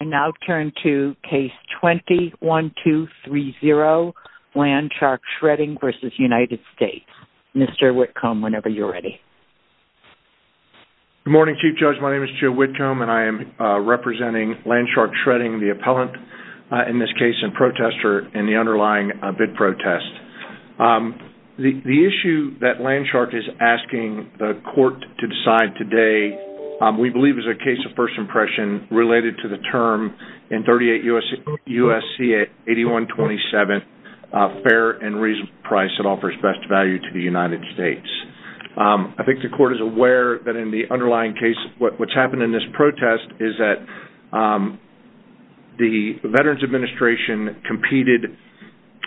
I now turn to Case 20-1230, Land Shark Shredding v. United States. Mr. Whitcomb, whenever you're ready. Good morning Chief Judge. My name is Joe Whitcomb and I am representing Land Shark Shredding, the appellant in this case, and protester in the underlying bid protest. The issue that Land Shark is asking the court to decide today, we believe is a case of first impression related to the term in 38 U.S.C. 8127, fair and reasonable price that offers best value to the United States. I think the court is aware that in the underlying case, what's happened in this protest is that the Veterans Administration competed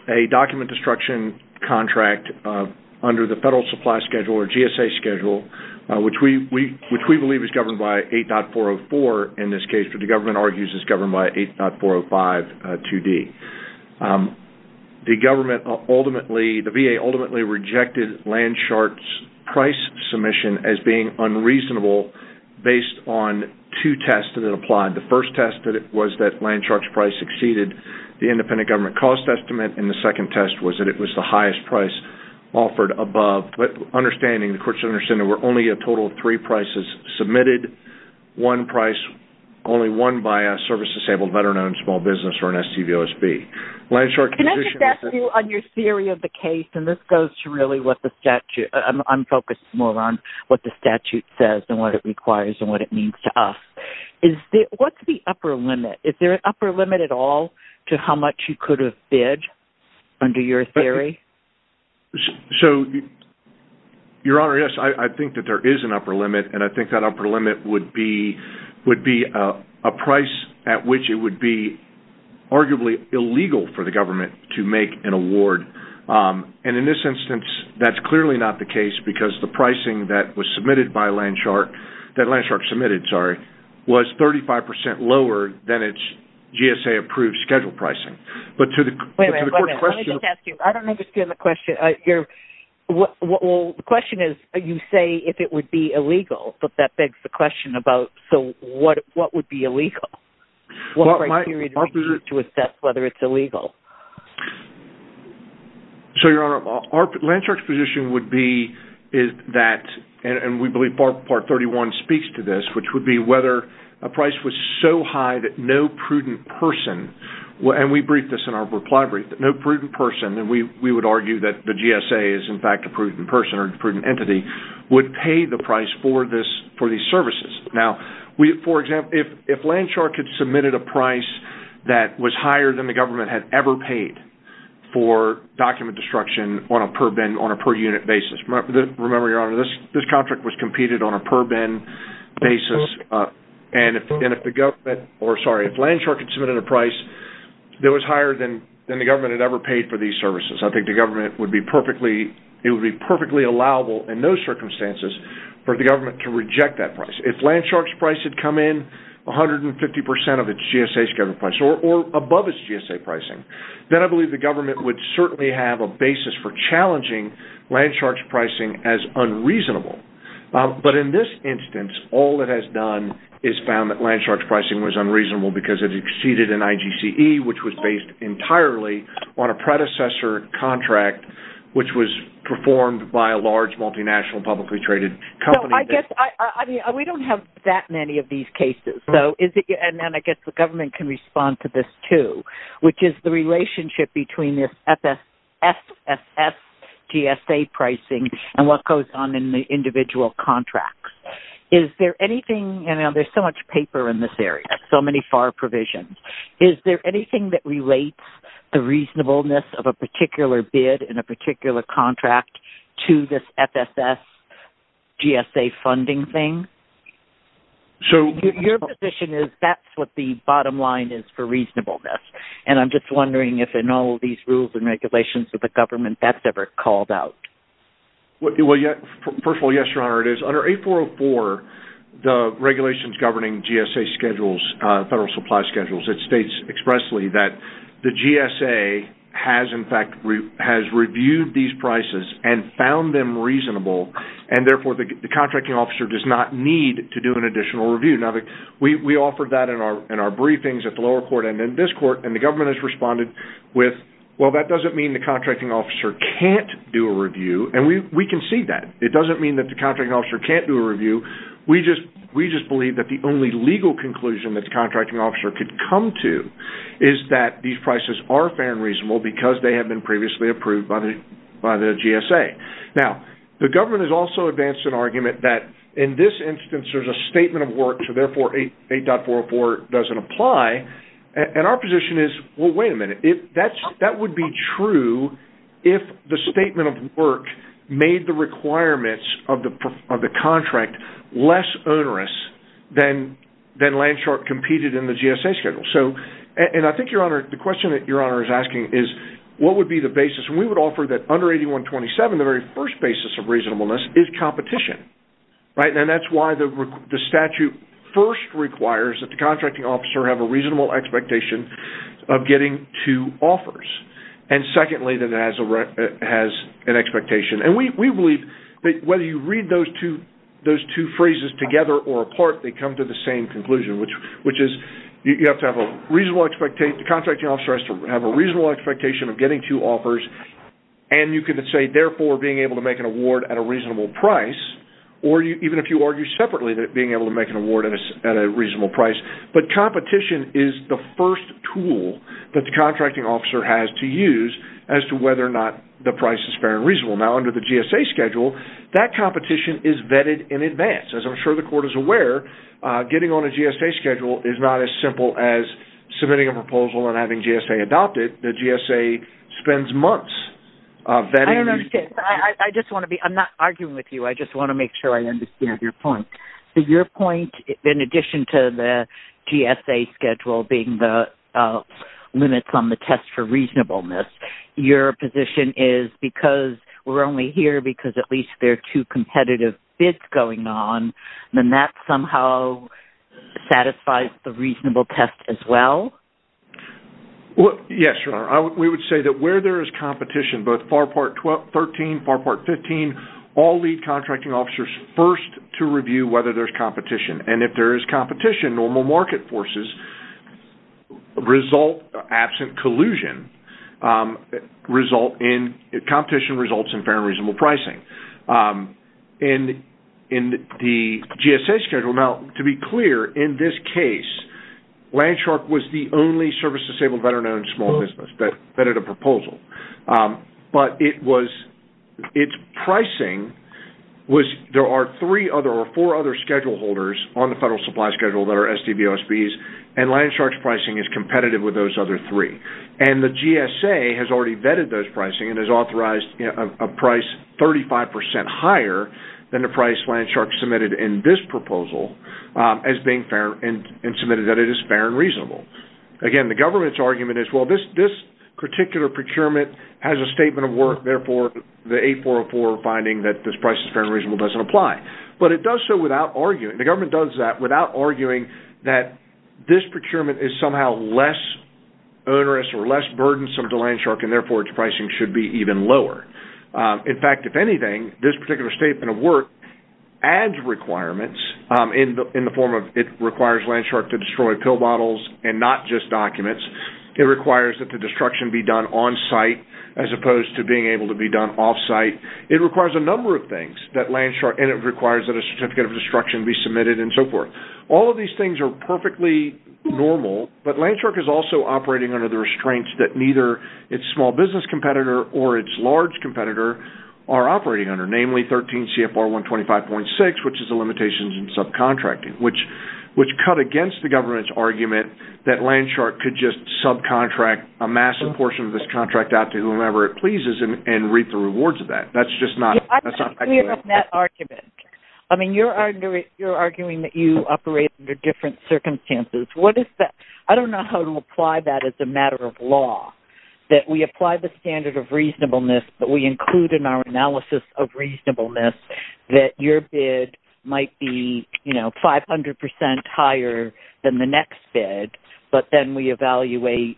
a document destruction contract under the Federal Supply Schedule or GSA Schedule, which we believe is governed by 8.404 in this case, but the government argues is governed by 8.405 2D. The VA ultimately rejected Land Shark's price submission as being unreasonable based on two tests that applied. The first test was that Land Shark's price exceeded the independent government cost estimate, and the second test was that it was the highest price offered above. But understanding, the court should understand that there were only a total of three prices submitted, one price only won by a service-disabled veteran-owned small business or an SCVOSB. Can I just ask you on your theory of the case, and this goes to really what the statute, I'm focused more on what the statute says and what it requires and what it means to us. What's the upper limit? Is there an upper limit at all to how much you could have bid under your theory? Your Honor, yes, I think that there is an upper limit, and I think that upper limit would be a price at which it would be arguably illegal for the government to make an award. And in this instance, that's clearly not the case because the pricing that was submitted by Land Shark, that Land Shark submitted, sorry, was 35% lower than its GSA-approved schedule pricing. Wait a minute, let me just ask you, I don't understand the question. The question is, you say if it would be illegal, but that begs the question about, so what would be illegal? What criteria do we use to assess whether it's illegal? So, Your Honor, Land Shark's position would be that, and we believe Part 31 speaks to this, which would be whether a price was so high that no prudent person, and we briefed this in our reply brief, that no prudent person, and we would argue that the GSA is in fact a prudent person or a prudent entity, would pay the price for these services. Now, for example, if Land Shark had submitted a price that was higher than the government had ever paid for document destruction on a per-bin, on a per-unit basis, remember, Your Honor, this contract was competed on a per-bin basis, and if the government, or sorry, if Land Shark had submitted a price that was higher than the government had ever paid for these services, I think the government would be perfectly, it would be perfectly allowable in those circumstances for the government to reject that price. If Land Shark's price had come in 150% of its GSA's government price, or above its GSA pricing, then I believe the government would certainly have a basis for challenging Land Shark's pricing as unreasonable. But in this instance, all it has done is found that Land Shark's pricing was unreasonable because it exceeded an IGCE, which was based entirely on a predecessor contract, which was performed by a large, multinational, publicly traded company. We don't have that many of these cases, and I guess the government can respond to this too, which is the relationship between this FSS GSA pricing and what goes on in the individual contracts. Is there anything, and there's so much paper in this area, so many FAR provisions, is there anything that relates the reasonableness of a particular bid in a particular contract to this FSS GSA funding thing? Your position is that's what the bottom line is for reasonableness, and I'm just wondering if in all of these rules and regulations that the government, that's ever called out. First of all, yes, Your Honor, it is. Under 8404, the regulations governing GSA schedules, federal supply schedules, it states expressly that the GSA has in fact reviewed these prices and found them reasonable, and therefore the contracting officer does not need to do an additional review. We offered that in our briefings at the lower court and in this court, and the government has responded with, well, that doesn't mean the contracting officer can't do a review, and we can see that. It doesn't mean that the contracting officer can't do a review. We just believe that the only legal conclusion that the contracting officer could come to is that these prices are fair and reasonable because they have been previously approved by the GSA. Now, the government has also advanced an argument that in this instance there's a statement of work, so therefore 8404 doesn't apply, and our position is, well, wait a minute, that would be true if the statement of work made the requirements of the contract less onerous than Landshark competed in the GSA schedule. I think, Your Honor, the question that Your Honor is asking is what would be the basis? We would offer that under 8127, the very first basis of reasonableness is competition, and that's why the statute first requires that the contracting officer have a reasonable expectation of getting two offers, and secondly, that it has an expectation. And we believe that whether you read those two phrases together or apart, they come to the same conclusion, which is you have to have a reasonable expectation. The contracting officer has to have a reasonable expectation of getting two offers, and you could say, therefore, being able to make an award at a reasonable price, or even if you argue separately that being able to make an award at a reasonable price. But competition is the first tool that the contracting officer has to use as to whether or not the price is fair and reasonable. Now, under the GSA schedule, that competition is vetted in advance. As I'm sure the Court is aware, getting on a GSA schedule is not as simple as submitting a proposal and having GSA adopt it. The GSA spends months vetting. I don't understand. I just want to be – I'm not arguing with you. I just want to make sure I understand your point. Your point, in addition to the GSA schedule being the limits on the test for reasonableness, your position is because we're only here because at least there are two competitive bids going on, then that somehow satisfies the reasonable test as well? Yes, Your Honor. We would say that where there is competition, both FAR Part 13, FAR Part 15, all lead contracting officers first to review whether there's competition. And if there is competition, normal market forces result, absent collusion, result in – competition results in fair and reasonable pricing. In the GSA schedule – now, to be clear, in this case, Landshark was the only service-disabled veteran-owned small business that vetted a proposal. But it was – its pricing was – there are three other or four other schedule holders on the Federal Supply Schedule that are SDVOSBs, and Landshark's pricing is competitive with those other three. And the GSA has already vetted those pricing and has authorized a price 35 percent higher than the price Landshark submitted in this proposal as being fair and submitted that it is fair and reasonable. Again, the government's argument is, well, this particular procurement has a statement of work. Therefore, the 8404 finding that this price is fair and reasonable doesn't apply. But it does so without arguing – the government does that without arguing that this procurement is somehow less onerous or less burdensome to Landshark, and therefore its pricing should be even lower. In fact, if anything, this particular statement of work adds requirements in the form of it requires Landshark to destroy pill bottles and not just documents. It requires that the destruction be done on-site as opposed to being able to be done off-site. It requires a number of things that Landshark – and it requires that a certificate of destruction be submitted and so forth. All of these things are perfectly normal, but Landshark is also operating under the restraint that neither its small business competitor or its large competitor are operating under, namely 13 CFR 125.6, which is the limitations in subcontracting, which cut against the government's argument that Landshark could just subcontract a massive portion of this contract out to whomever it pleases and reap the rewards of that. That's just not – I disagree with that argument. I mean, you're arguing that you operate under different circumstances. I don't know how to apply that as a matter of law, that we apply the standard of reasonableness, but we include in our analysis of reasonableness that your bid might be 500 percent higher than the next bid, but then we evaluate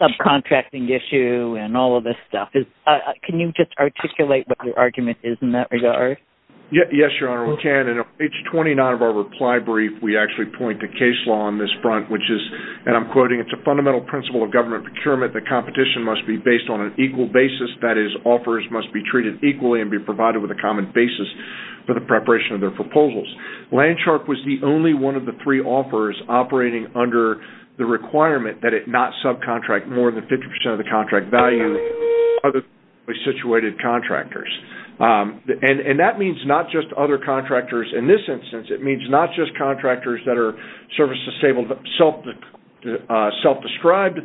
subcontracting issue and all of this stuff. Can you just articulate what your argument is in that regard? Yes, Your Honor, we can, and on page 29 of our reply brief, we actually point to case law on this front, which is – and I'm quoting – it's a fundamental principle of government procurement that competition must be based on an equal basis, that is, offers must be treated equally and be provided with a common basis for the preparation of their proposals. Landshark was the only one of the three offers operating under the requirement that it not subcontract more than 50 percent of the contract value to other situated contractors. And that means not just other contractors in this instance. It means not just contractors that are service-disabled, self-described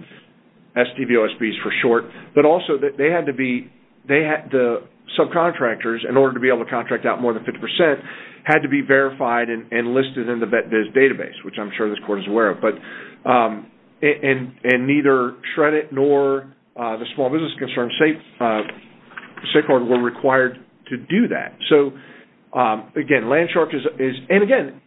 SDVOSBs for short, but also that they had to be – the subcontractors, in order to be able to contract out more than 50 percent, had to be verified and listed in the VET-Biz database, which I'm sure this Court is aware of. And neither SHRED-IT nor the Small Business Concern State Court were required to do that. So, again, Landshark is – and again,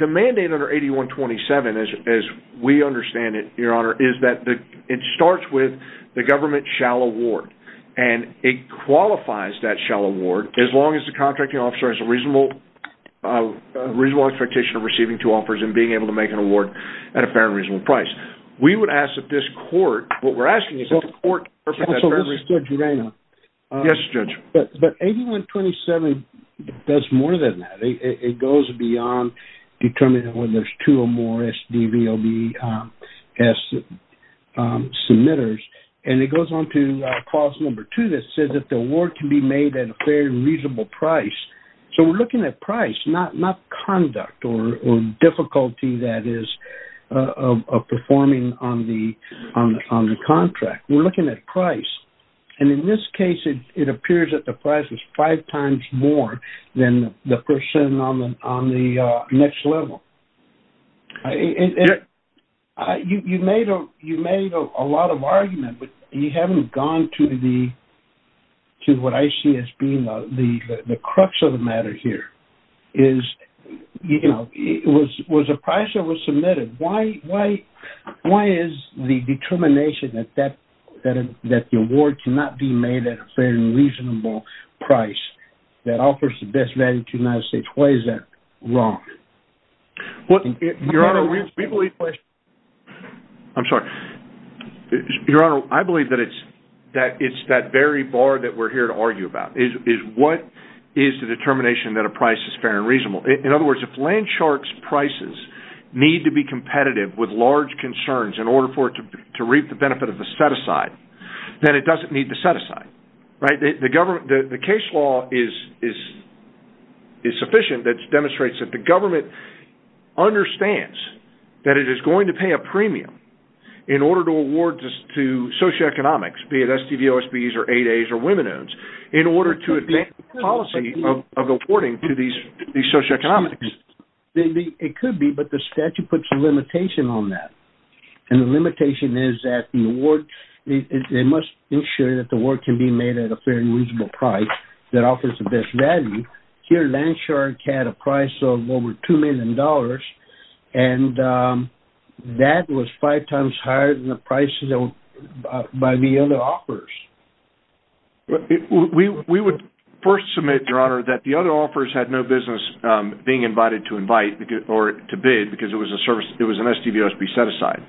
the mandate under 8127, as we understand it, Your Honor, is that it starts with the government shall award. And it qualifies that shall award, as long as the contracting officer has a reasonable expectation of receiving two offers and being able to make an award at a fair and reasonable price. We would ask that this Court – what we're asking is that the Court – So, this is Judge Urano. Yes, Judge. But 8127 does more than that. It goes beyond determining whether there's two or more SDVOSB submitters. And it goes on to Clause Number 2 that says that the award can be made at a fair and reasonable price. So, we're looking at price, not conduct or difficulty, that is, of performing on the contract. We're looking at price. And in this case, it appears that the price is five times more than the person on the next level. You made a lot of argument, but you haven't gone to the – to what I see as being the crux of the matter here is, you know, was the price that was submitted? Why is the determination that the award cannot be made at a fair and reasonable price that offers the best value to the United States – why is that wrong? Well, Your Honor, we believe – I'm sorry. Your Honor, I believe that it's that very bar that we're here to argue about is what is the determination that a price is fair and reasonable. In other words, if Landshark's prices need to be competitive with large concerns in order for it to reap the benefit of the set-aside, then it doesn't need the set-aside, right? The case law is sufficient that it demonstrates that the government understands that it is going to pay a premium in order to award to socioeconomics, be it SDVOSBs or 8As or women-owned, in order to advance the policy of awarding to these socioeconomics. It could be, but the statute puts a limitation on that. And the limitation is that the award – they must ensure that the award can be made at a fair and reasonable price that offers the best value. Here, Landshark had a price of over $2 million, and that was five times higher than the prices by the other offers. We would first submit, Your Honor, that the other offers had no business being invited to invite or to bid because it was an SDVOSB set-aside.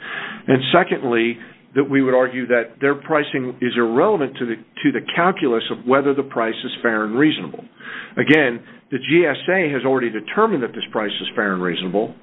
And secondly, that we would argue that their pricing is irrelevant to the calculus of whether the price is fair and reasonable. Again, the GSA has already determined that this price is fair and reasonable,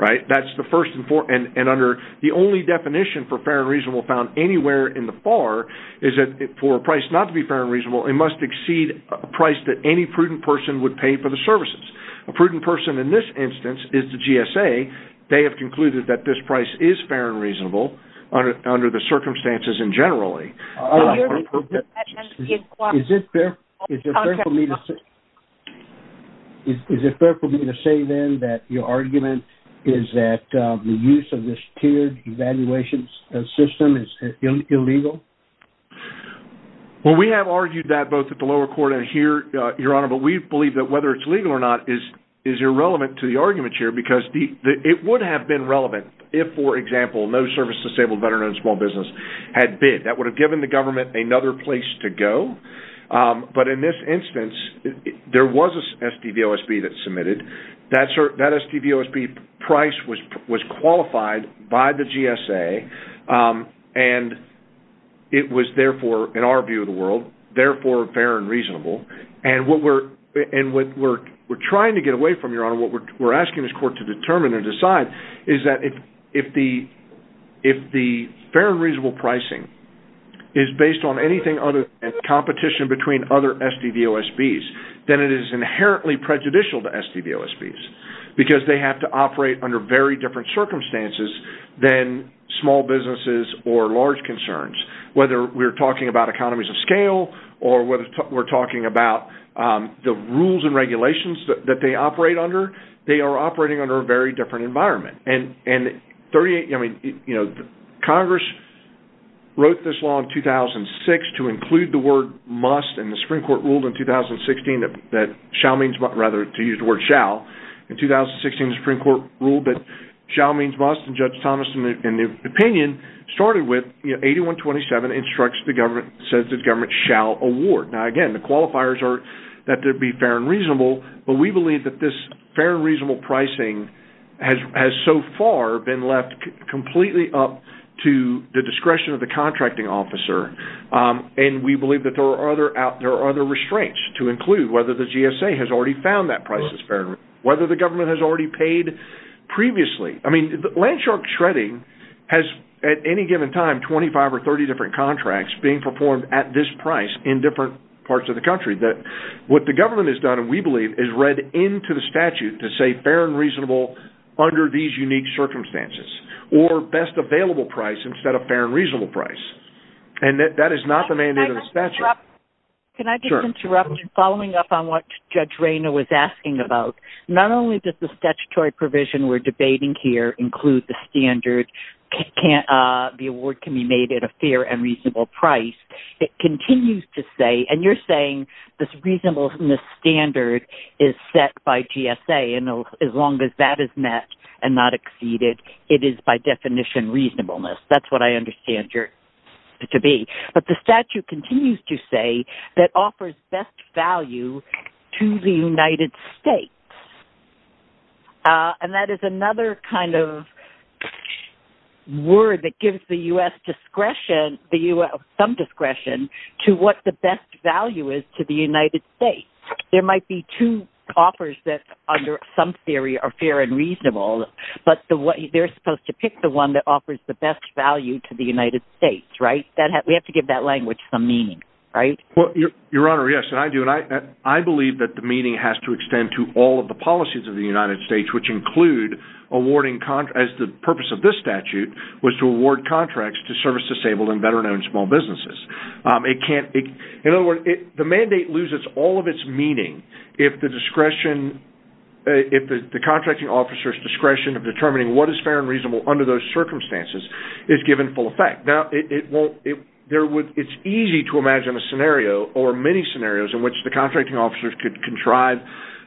right? And under the only definition for fair and reasonable found anywhere in the FAR is that for a price not to be fair and reasonable, it must exceed a price that any prudent person would pay for the services. A prudent person in this instance is the GSA. They have concluded that this price is fair and reasonable under the circumstances and generally. Is it fair for me to say, then, that your argument is that the use of this tiered evaluation system is illegal? Well, we have argued that both at the lower court and here, Your Honor. But we believe that whether it's legal or not is irrelevant to the argument here because it would have been relevant if, for example, no service-disabled veteran and small business had bid. That would have given the government another place to go. But in this instance, there was an SDVOSB that submitted. That SDVOSB price was qualified by the GSA, and it was, therefore, in our view of the world, therefore fair and reasonable. And what we're trying to get away from, Your Honor, what we're asking this court to determine and decide is that if the fair and reasonable pricing is based on anything other than competition between other SDVOSBs, then it is inherently prejudicial to SDVOSBs because they have to operate under very different circumstances than small businesses or large concerns. Whether we're talking about economies of scale or whether we're talking about the rules and regulations that they operate under, they are operating under a very different environment. And Congress wrote this law in 2006 to include the word must, and the Supreme Court ruled in 2016 that shall means must, rather to use the word shall. In 2016, the Supreme Court ruled that shall means must, and Judge Thomas, in the opinion, started with 8127, instructs the government, says the government shall award. Now, again, the qualifiers are that there be fair and reasonable, but we believe that this fair and reasonable pricing has so far been left completely up to the discretion of the contracting officer. And we believe that there are other restraints to include whether the GSA has already found that price is fair and reasonable, whether the government has already paid previously. I mean, land shark shredding has, at any given time, 25 or 30 different contracts being performed at this price in different parts of the country. What the government has done, we believe, is read into the statute to say fair and reasonable under these unique circumstances, or best available price instead of fair and reasonable price. And that is not the mandate of the statute. Can I just interrupt in following up on what Judge Rayner was asking about? Not only does the statutory provision we're debating here include the standard, the award can be made at a fair and reasonable price. It continues to say, and you're saying this reasonableness standard is set by GSA, and as long as that is met and not exceeded, it is by definition reasonableness. That's what I understand it to be. But the statute continues to say that offers best value to the United States. And that is another kind of word that gives the U.S. discretion, some discretion, to what the best value is to the United States. There might be two offers that, under some theory, are fair and reasonable, but they're supposed to pick the one that offers the best value to the United States, right? We have to give that language some meaning, right? Well, Your Honor, yes, and I do. And I believe that the meaning has to extend to all of the policies of the United States, which include awarding contracts. The purpose of this statute was to award contracts to service-disabled and veteran-owned small businesses. In other words, the mandate loses all of its meaning if the contracting officer's discretion of determining what is fair and reasonable under those circumstances is given full effect. Now, it's easy to imagine a scenario, or many scenarios, in which the contracting officer could contrive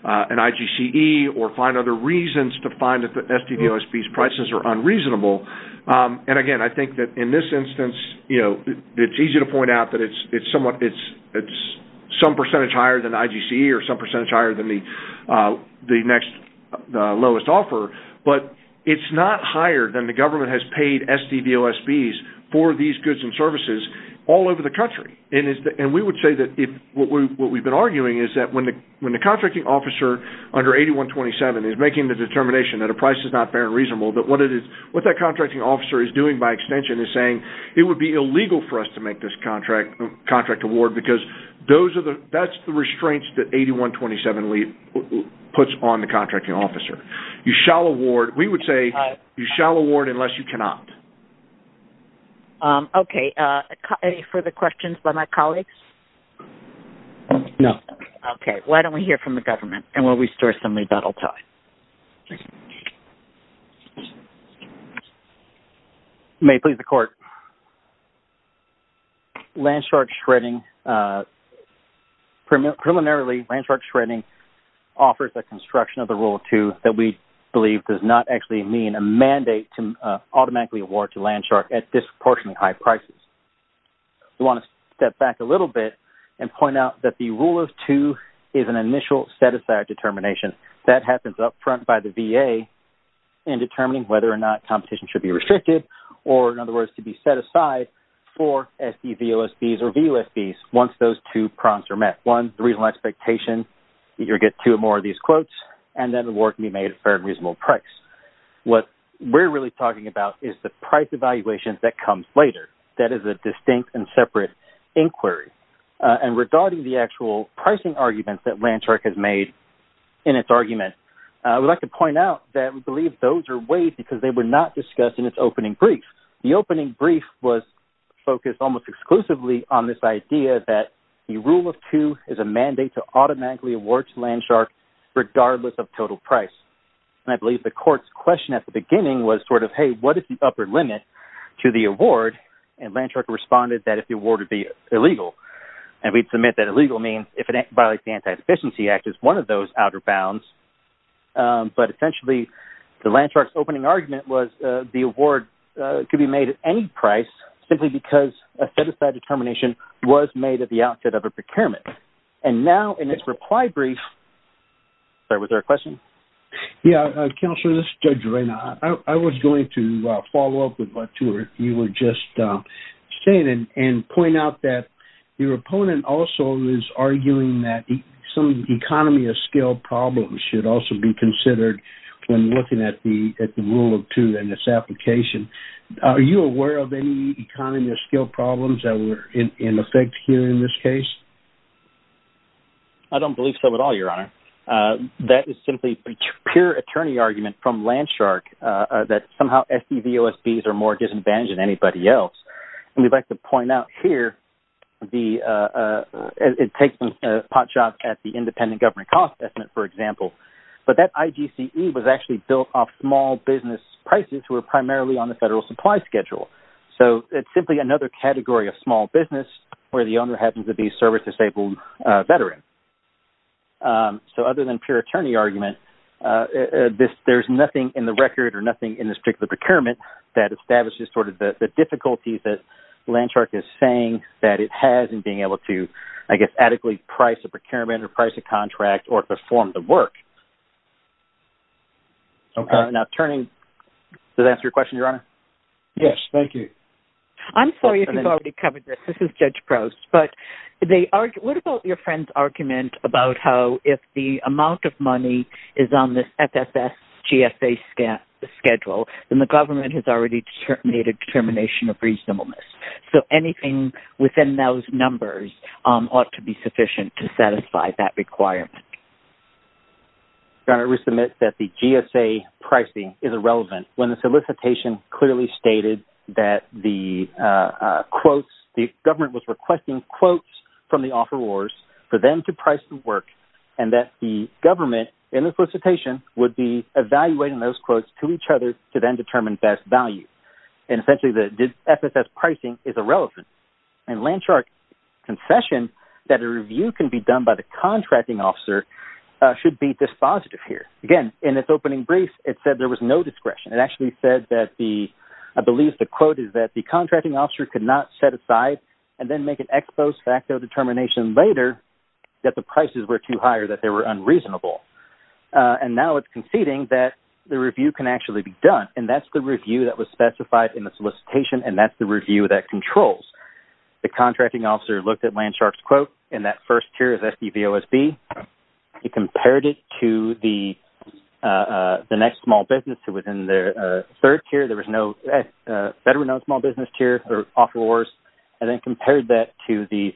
an IGCE or find other reasons to find that the SDV OSB's prices are unreasonable. And again, I think that in this instance, it's easy to point out that it's some percentage higher than IGCE or some percentage higher than the next lowest offer, but it's not higher than the government has paid SDV OSB's for these goods and services all over the country. And we would say that what we've been arguing is that when the contracting officer under 8127 is making the determination that a price is not fair and reasonable, that what that contracting officer is doing, by extension, is saying, it would be illegal for us to make this contract award because that's the restraints that 8127 puts on the contracting officer. We would say, you shall award unless you cannot. Okay. Any further questions by my colleagues? No. Okay. Why don't we hear from the government, and we'll restore some rebuttal time. If you may please, the court. Landshark Shredding, preliminarily, Landshark Shredding offers a construction of the Rule of Two that we believe does not actually mean a mandate to automatically award to Landshark at disproportionately high prices. We want to step back a little bit and point out that the Rule of Two is an initial set-aside determination. That happens up front by the VA in determining whether or not competition should be restricted, or, in other words, to be set aside for SDVOSBs or VOSBs once those two prompts are met. One, the reasonable expectation that you'll get two or more of these quotes, and then the award can be made at a fair and reasonable price. What we're really talking about is the price evaluation that comes later. That is a distinct and separate inquiry. And regarding the actual pricing arguments that Landshark has made in its argument, I would like to point out that we believe those are waived because they were not discussed in its opening brief. The opening brief was focused almost exclusively on this idea that the Rule of Two is a mandate to automatically award to Landshark regardless of total price. And I believe the court's question at the beginning was sort of, hey, what is the upper limit to the award? And Landshark responded that if the award would be illegal. And we'd submit that illegal means if it violates the Anti-Sufficiency Act, it's one of those outer bounds. But essentially, the Landshark's opening argument was the award could be made at any price simply because a set-aside determination was made at the outset of a procurement. And now, in its reply brief... Sorry, was there a question? Yeah, Counselor, this is Judge Reina. I was going to follow up with what you were just saying and point out that your opponent also is arguing that some economy of scale problems should also be considered when looking at the Rule of Two and its application. Are you aware of any economy of scale problems that were in effect here in this case? I don't believe so at all, Your Honor. That is simply pure attorney argument from Landshark that somehow SDV OSBs are more disadvantaged than anybody else. And we'd like to point out here the...it takes pot shots at the independent government cost estimate, for example. But that IGCE was actually built off small business prices who are primarily on the federal supply schedule. So it's simply another category of small business where the owner happens to be a service-disabled veteran. So other than pure attorney argument, there's nothing in the record or nothing in this particular procurement that establishes sort of the difficulties that Landshark is saying that it has in being able to, I guess, adequately price a procurement or price a contract or perform the work. Okay. Now, turning...does that answer your question, Your Honor? Yes, thank you. I'm sorry if you've already covered this. This is Judge Prowse. But they argue...what about your friend's argument about how if the amount of money is on the FFS GSA schedule, then the government has already made a determination of reasonableness. So anything within those numbers ought to be sufficient to satisfy that requirement. Your Honor, we submit that the GSA pricing is irrelevant when the solicitation clearly stated that the quotes...the government was requesting quotes from the offerors for them to price the work and that the government in the solicitation would be evaluating those quotes to each other to then determine best value. And essentially, the FFS pricing is irrelevant. And Landshark's confession that a review can be done by the contracting officer should be dispositive here. Again, in its opening brief, it said there was no discretion. It actually said that the...I believe the quote is that the contracting officer could not set aside and then make an ex post facto determination later that the prices were too high or that they were unreasonable. And now it's conceding that the review can actually be done. And that's the review that was specified in the solicitation. And that's the review that controls. The contracting officer looked at Landshark's quote in that first tier of SBVOSB. He compared it to the next small business who was in their third tier. There was no...better known small business tier or offerors. And then compared that to the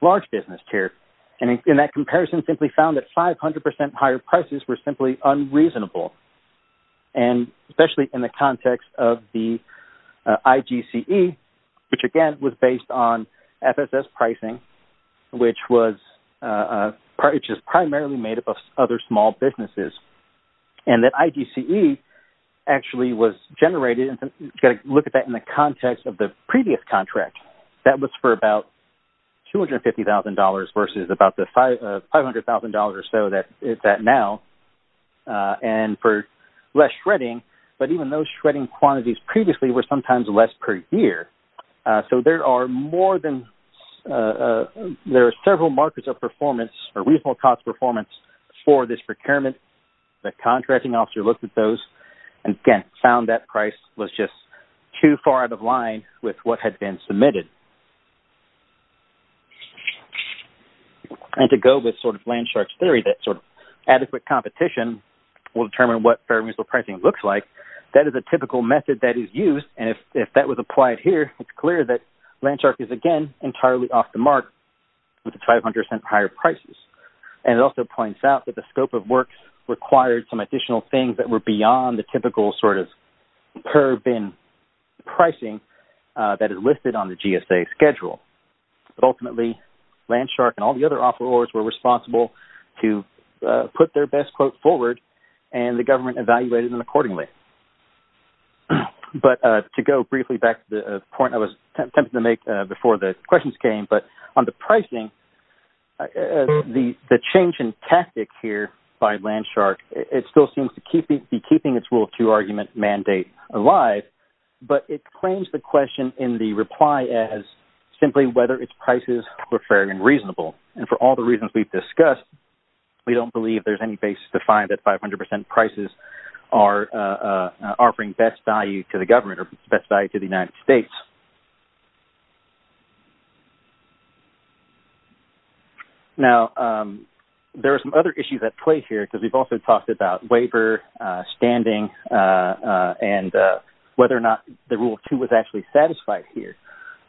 large business tier. And in that comparison, simply found that 500% higher prices were simply unreasonable. And especially in the context of the IGCE, which, again, was based on FFS pricing, which was...which is primarily made up of other small businesses. And that IGCE actually was generated...you got to look at that in the context of the previous contract. That was for about $250,000 versus about the $500,000 or so that is that now. And for less shredding. But even those shredding quantities previously were sometimes less per year. So there are more than...there are several markers of performance or reasonable cost performance for this procurement. The contracting officer looked at those and, again, found that price was just too far out of line with what had been submitted. And to go with sort of Landshark's theory that sort of adequate competition will determine what fair and reasonable pricing looks like, that is a typical method that is used. And if that was applied here, it's clear that Landshark is, again, entirely off the mark with the 500% higher prices. And it also points out that the scope of work required some additional things that were beyond the typical sort of per bin pricing that is listed on the GSA schedule. But ultimately, Landshark and all the other offerors were responsible to put their best quote forward, and the government evaluated them accordingly. But to go briefly back to the point I was attempting to make before the questions came, but on the pricing, the change in tactic here by Landshark, it still seems to be keeping its Rule 2 argument mandate alive. But it claims the question in the reply as simply whether its prices were fair and reasonable. And for all the reasons we've discussed, we don't believe there's any basis to find that 500% prices are offering best value to the government or best value to the United States. Now, there are some other issues at play here because we've also talked about waiver, standing, and whether or not the Rule 2 was actually satisfied here.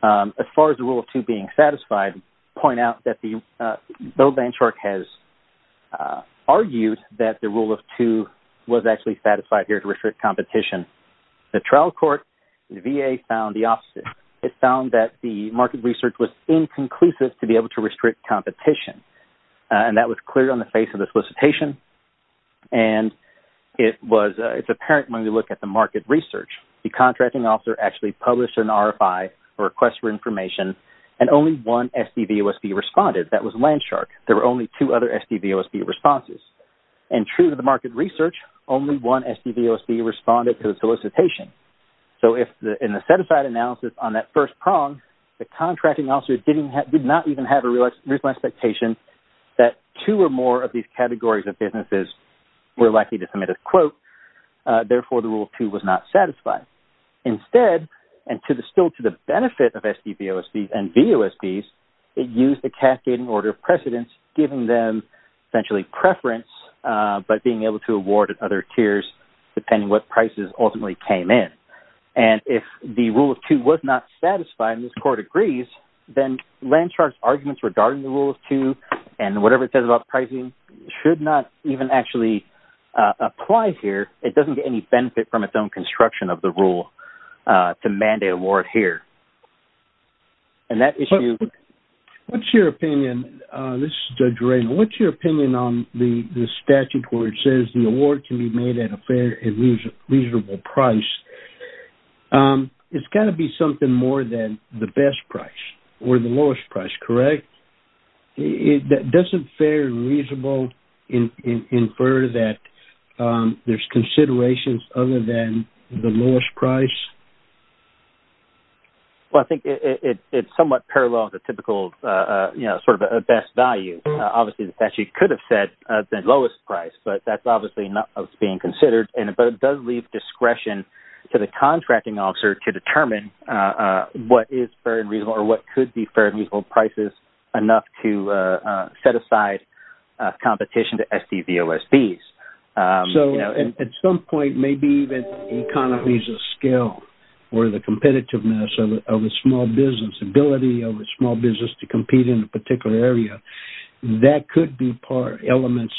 As far as the Rule 2 being satisfied, point out that Bill Landshark has argued that the Rule 2 was actually satisfied here to restrict competition. The trial court, the VA found the opposite. It found that the market research was inconclusive to be able to restrict competition. And that was clear on the face of the solicitation. And it's apparent when we look at the market research. The contracting officer actually published an RFI, a request for information, and only one SDVOSB responded. That was Landshark. There were only two other SDVOSB responses. And true to the market research, only one SDVOSB responded to the solicitation. So in the set-aside analysis on that first prong, the contracting officer did not even have a reasonable expectation that two or more of these categories of businesses were likely to submit a quote. Therefore, the Rule 2 was not satisfied. Instead, and still to the benefit of SDVOSBs and VOSBs, it used the cascading order of precedence, giving them essentially preference but being able to award at other tiers depending what prices ultimately came in. And if the Rule 2 was not satisfied and this court agrees, then Landshark's arguments regarding the Rule 2 and whatever it says about pricing should not even actually apply here. It doesn't get any benefit from its own construction of the rule to mandate award here. And that issue... What's your opinion? This is Judge Ray. What's your opinion on the statute where it says the award can be made at a fair and reasonable price? It's got to be something more than the best price or the lowest price, correct? Doesn't fair and reasonable infer that there's considerations other than the lowest price? Well, I think it's somewhat parallel to typical sort of a best value. Obviously, the statute could have said the lowest price, but that's obviously not what's being considered. But it does leave discretion to the contracting officer to determine what is fair and reasonable or what could be fair and reasonable prices enough to set aside competition to SDVOSBs. So at some point, maybe even economies of scale or the competitiveness of a small business, ability of a small business to compete in a particular area, that could be elements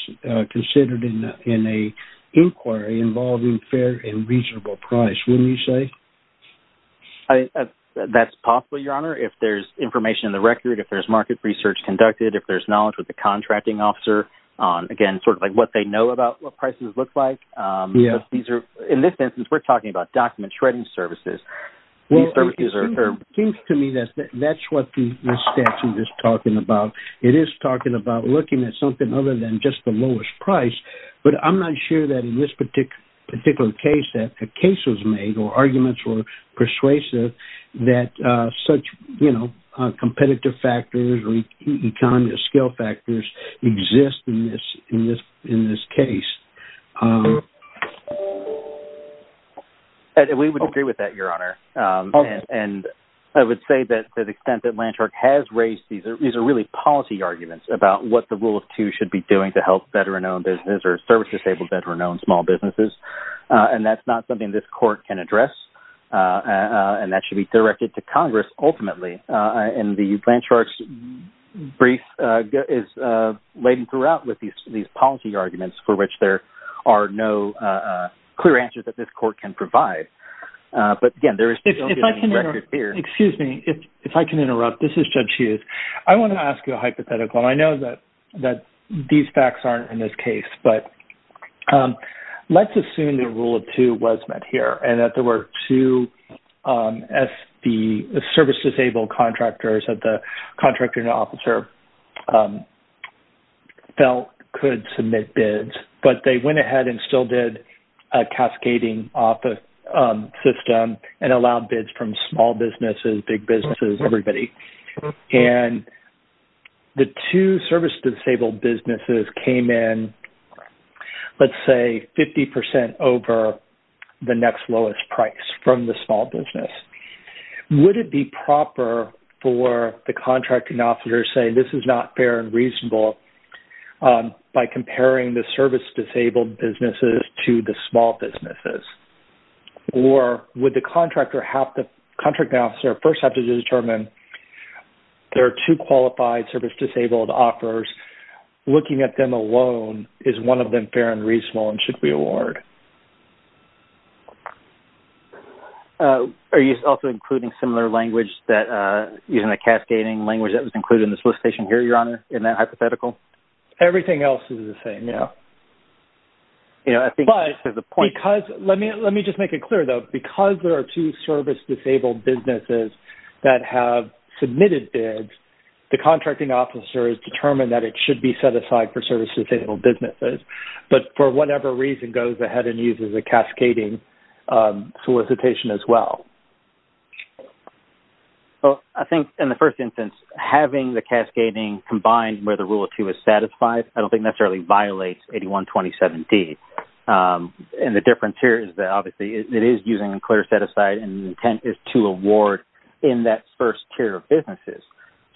considered in an inquiry involving fair and reasonable price, wouldn't you say? That's possible, Your Honor. If there's information in the record, if there's market research conducted, if there's knowledge with the contracting officer on, again, sort of like what they know about what prices look like. In this instance, we're talking about document shredding services. It seems to me that that's what the statute is talking about. It is talking about looking at something other than just the lowest price. But I'm not sure that in this particular case that a case was made or arguments were persuasive that such competitive factors or economies of scale factors exist in this case. We would agree with that, Your Honor. And I would say that the extent that Lanshark has raised these are really policy arguments about what the rule of two should be doing to help veteran-owned businesses or service-disabled veteran-owned small businesses. And that's not something this court can address. And that should be directed to Congress ultimately. And the Lanshark's brief is laden throughout with these policy arguments for which there are no clear answers that this court can provide. But, again, there is no record here. Excuse me. If I can interrupt. This is Judge Hughes. I want to ask you a hypothetical. And I know that these facts aren't in this case. But let's assume the rule of two was met here and that there were two service-disabled contractors that the contracting officer felt could submit bids. But they went ahead and still did a cascading off the system and allowed bids from small businesses, big businesses, everybody. And the two service-disabled businesses came in, let's say, 50% over the next lowest price from the small business. Would it be proper for the contracting officer to say this is not fair and reasonable by comparing the service-disabled businesses to the small businesses? Or would the contracting officer first have to determine there are two qualified service-disabled offers. Looking at them alone, is one of them fair and reasonable and should we award? Are you also including similar language that is in the cascading language that was included in the solicitation here, Your Honor, in that hypothetical? Everything else is the same. Yes. You know, I think this is the point. But because... Let me just make it clear, though. Because there are two service-disabled businesses that have submitted bids, the contracting officer has determined that it should be set aside for service-disabled businesses. But for whatever reason, goes ahead and uses a cascading solicitation as well. Well, I think in the first instance, having the cascading combined where the Rule 2 is satisfied, I don't think necessarily violates 8127D. And the difference here is that obviously it is using a clear set-aside and the intent is to award in that first tier of businesses.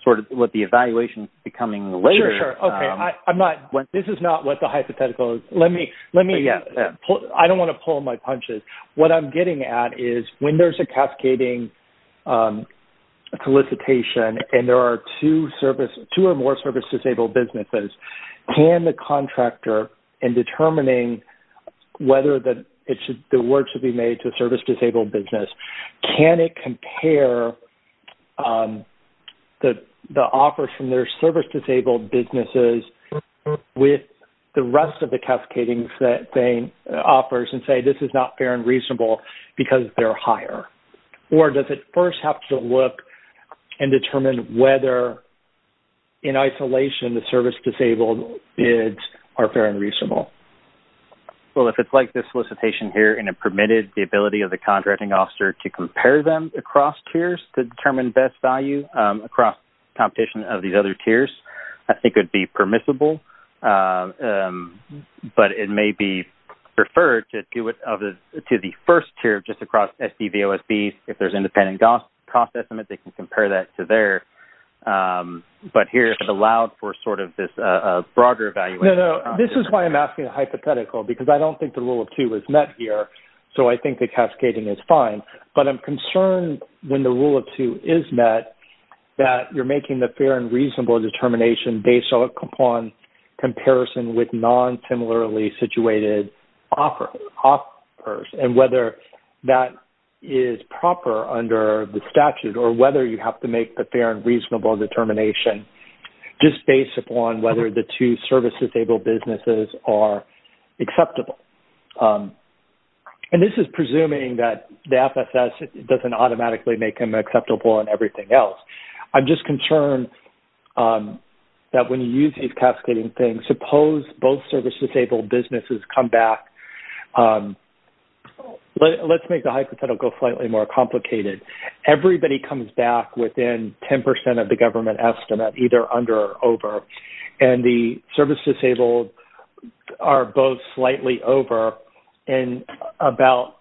Sort of what the evaluation is becoming later... Sure, sure. Okay, I'm not... This is not what the hypothetical is. Let me... I don't want to pull my punches. What I'm getting at is when there's a cascading solicitation and there are two or more service-disabled businesses, can the contractor in determining whether the award should be made to a service-disabled business, can it compare the offers from their service-disabled businesses with the rest of the cascading offers and say, this is not fair and reasonable because they're higher? Or does it first have to look and determine whether in isolation the service-disabled bids are fair and reasonable? Well, if it's like this solicitation here and it permitted the ability of the contracting officer to compare them across tiers to determine best value across competition of these other tiers, I think it would be permissible. But it may be preferred to do it to the first tier just across SDVOSB. If there's independent cost estimate, they can compare that to there. But here, if it allowed for sort of this broader evaluation... No, no. This is why I'm asking a hypothetical because I don't think the Rule of Two is met here. So I think the cascading is fine. But I'm concerned when the Rule of Two is met that you're making the fair and reasonable determination based upon comparison with non-similarly situated offers and whether that is proper under the statute or whether you have to make the fair and reasonable determination just based upon whether the two service-disabled businesses are acceptable. And this is presuming that the FSS doesn't automatically make them acceptable and everything else. I'm just concerned that when you use these cascading things, suppose both service-disabled businesses come back. Let's make the hypothetical slightly more complicated. Everybody comes back within 10% of the government estimate, either under or over. And the service-disabled are both slightly over and about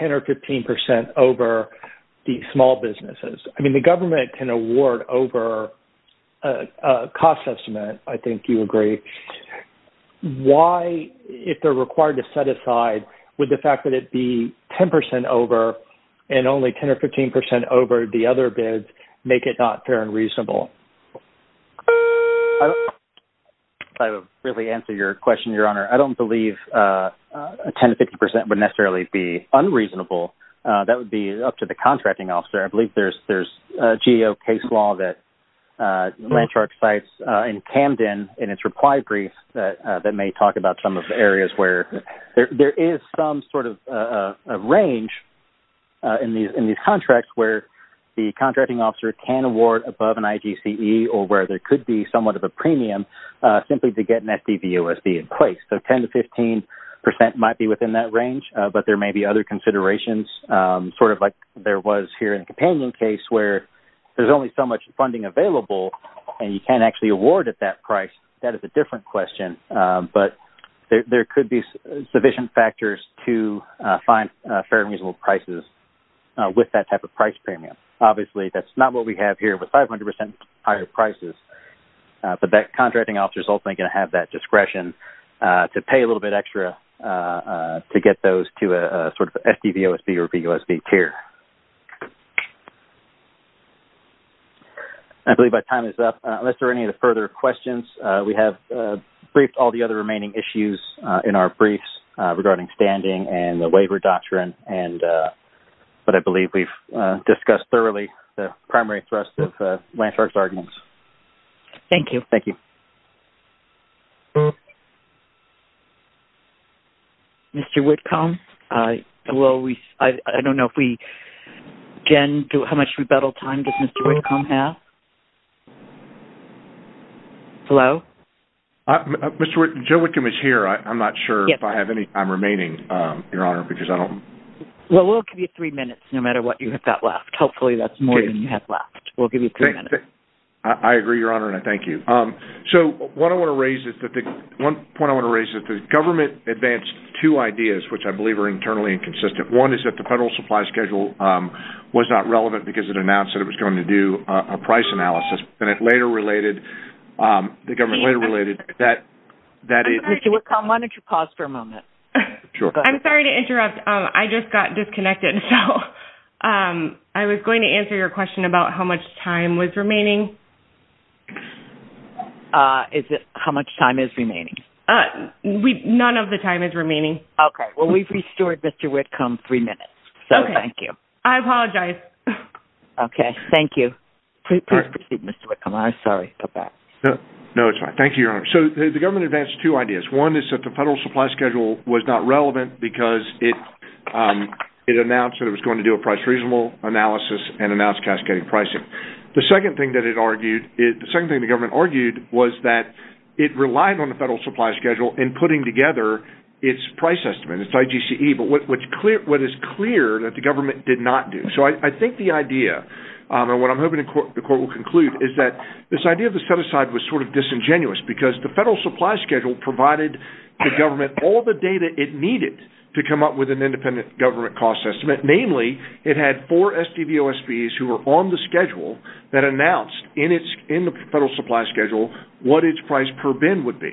10% or 15% over the small businesses. I mean, the government can award over a cost estimate. I think you agree. Why, if they're required to set aside, would the fact that it'd be 10% over and only 10% or 15% over the other bids make it not fair and reasonable? I would really answer your question, Your Honor. I don't believe 10% or 15% would necessarily be unreasonable. That would be up to the contracting officer. I believe there's a GEO case law that Landshark cites in Camden in its reply brief that may talk about some of the areas where there is some sort of range in these contracts where the contracting officer can award above an IGCE or where there could be somewhat of a premium simply to get an FDVOSB in place. So 10% to 15% might be within that range, but there may be other considerations, sort of like there was here in the Companion case where there's only so much funding available and you can't actually award at that price. That is a different question, but there could be sufficient factors to find fair and reasonable prices with that type of price premium. Obviously, that's not what we have here with 500% higher prices, but that contracting officer is ultimately going to have that discretion. To pay a little bit extra to get those to a sort of FDVOSB or VOSB tier. I believe my time is up. Unless there are any further questions, we have briefed all the other remaining issues in our briefs regarding standing and the waiver doctrine, but I believe we've discussed thoroughly the primary thrust of Landshark's arguments. Thank you. Thank you. Mr. Whitcomb? I don't know if we can. How much rebuttal time does Mr. Whitcomb have? Hello? Joe Whitcomb is here. I'm not sure if I have any. I'm remaining, Your Honor, because I don't... Well, we'll give you three minutes no matter what you have left. Hopefully, that's more than you have left. We'll give you three minutes. I agree, Your Honor, and I thank you. One point I want to raise is that the government advanced two ideas, which I believe are internally inconsistent. One is that the federal supply schedule was not relevant because it announced that it was going to do a price analysis, and it later related, the government later related, that it... Mr. Whitcomb, why don't you pause for a moment? Sure. I'm sorry to interrupt. I just got disconnected, so I was going to answer your question about how much time was remaining. How much time is remaining? None of the time is remaining. Okay. Well, we've restored Mr. Whitcomb three minutes, so thank you. Okay. I apologize. Okay. Thank you. Please proceed, Mr. Whitcomb. I'm sorry. Go back. No, it's fine. Thank you, Your Honor. So, the government advanced two ideas. One is that the federal supply schedule was not relevant because it announced that it was going to do a price reasonable analysis and announced cascading pricing. The second thing that the government argued was that it relied on the federal supply schedule in putting together its price estimate, its IGCE, but what is clear that the government did not do. So, I think the idea, and what I'm hoping the court will conclude, is that this idea of the set-aside was sort of disingenuous because the federal supply schedule provided the government all the data it needed to come up with an independent government cost estimate. Namely, it had four SDVOSBs who were on the schedule that announced in the federal supply schedule what its price per bin would be,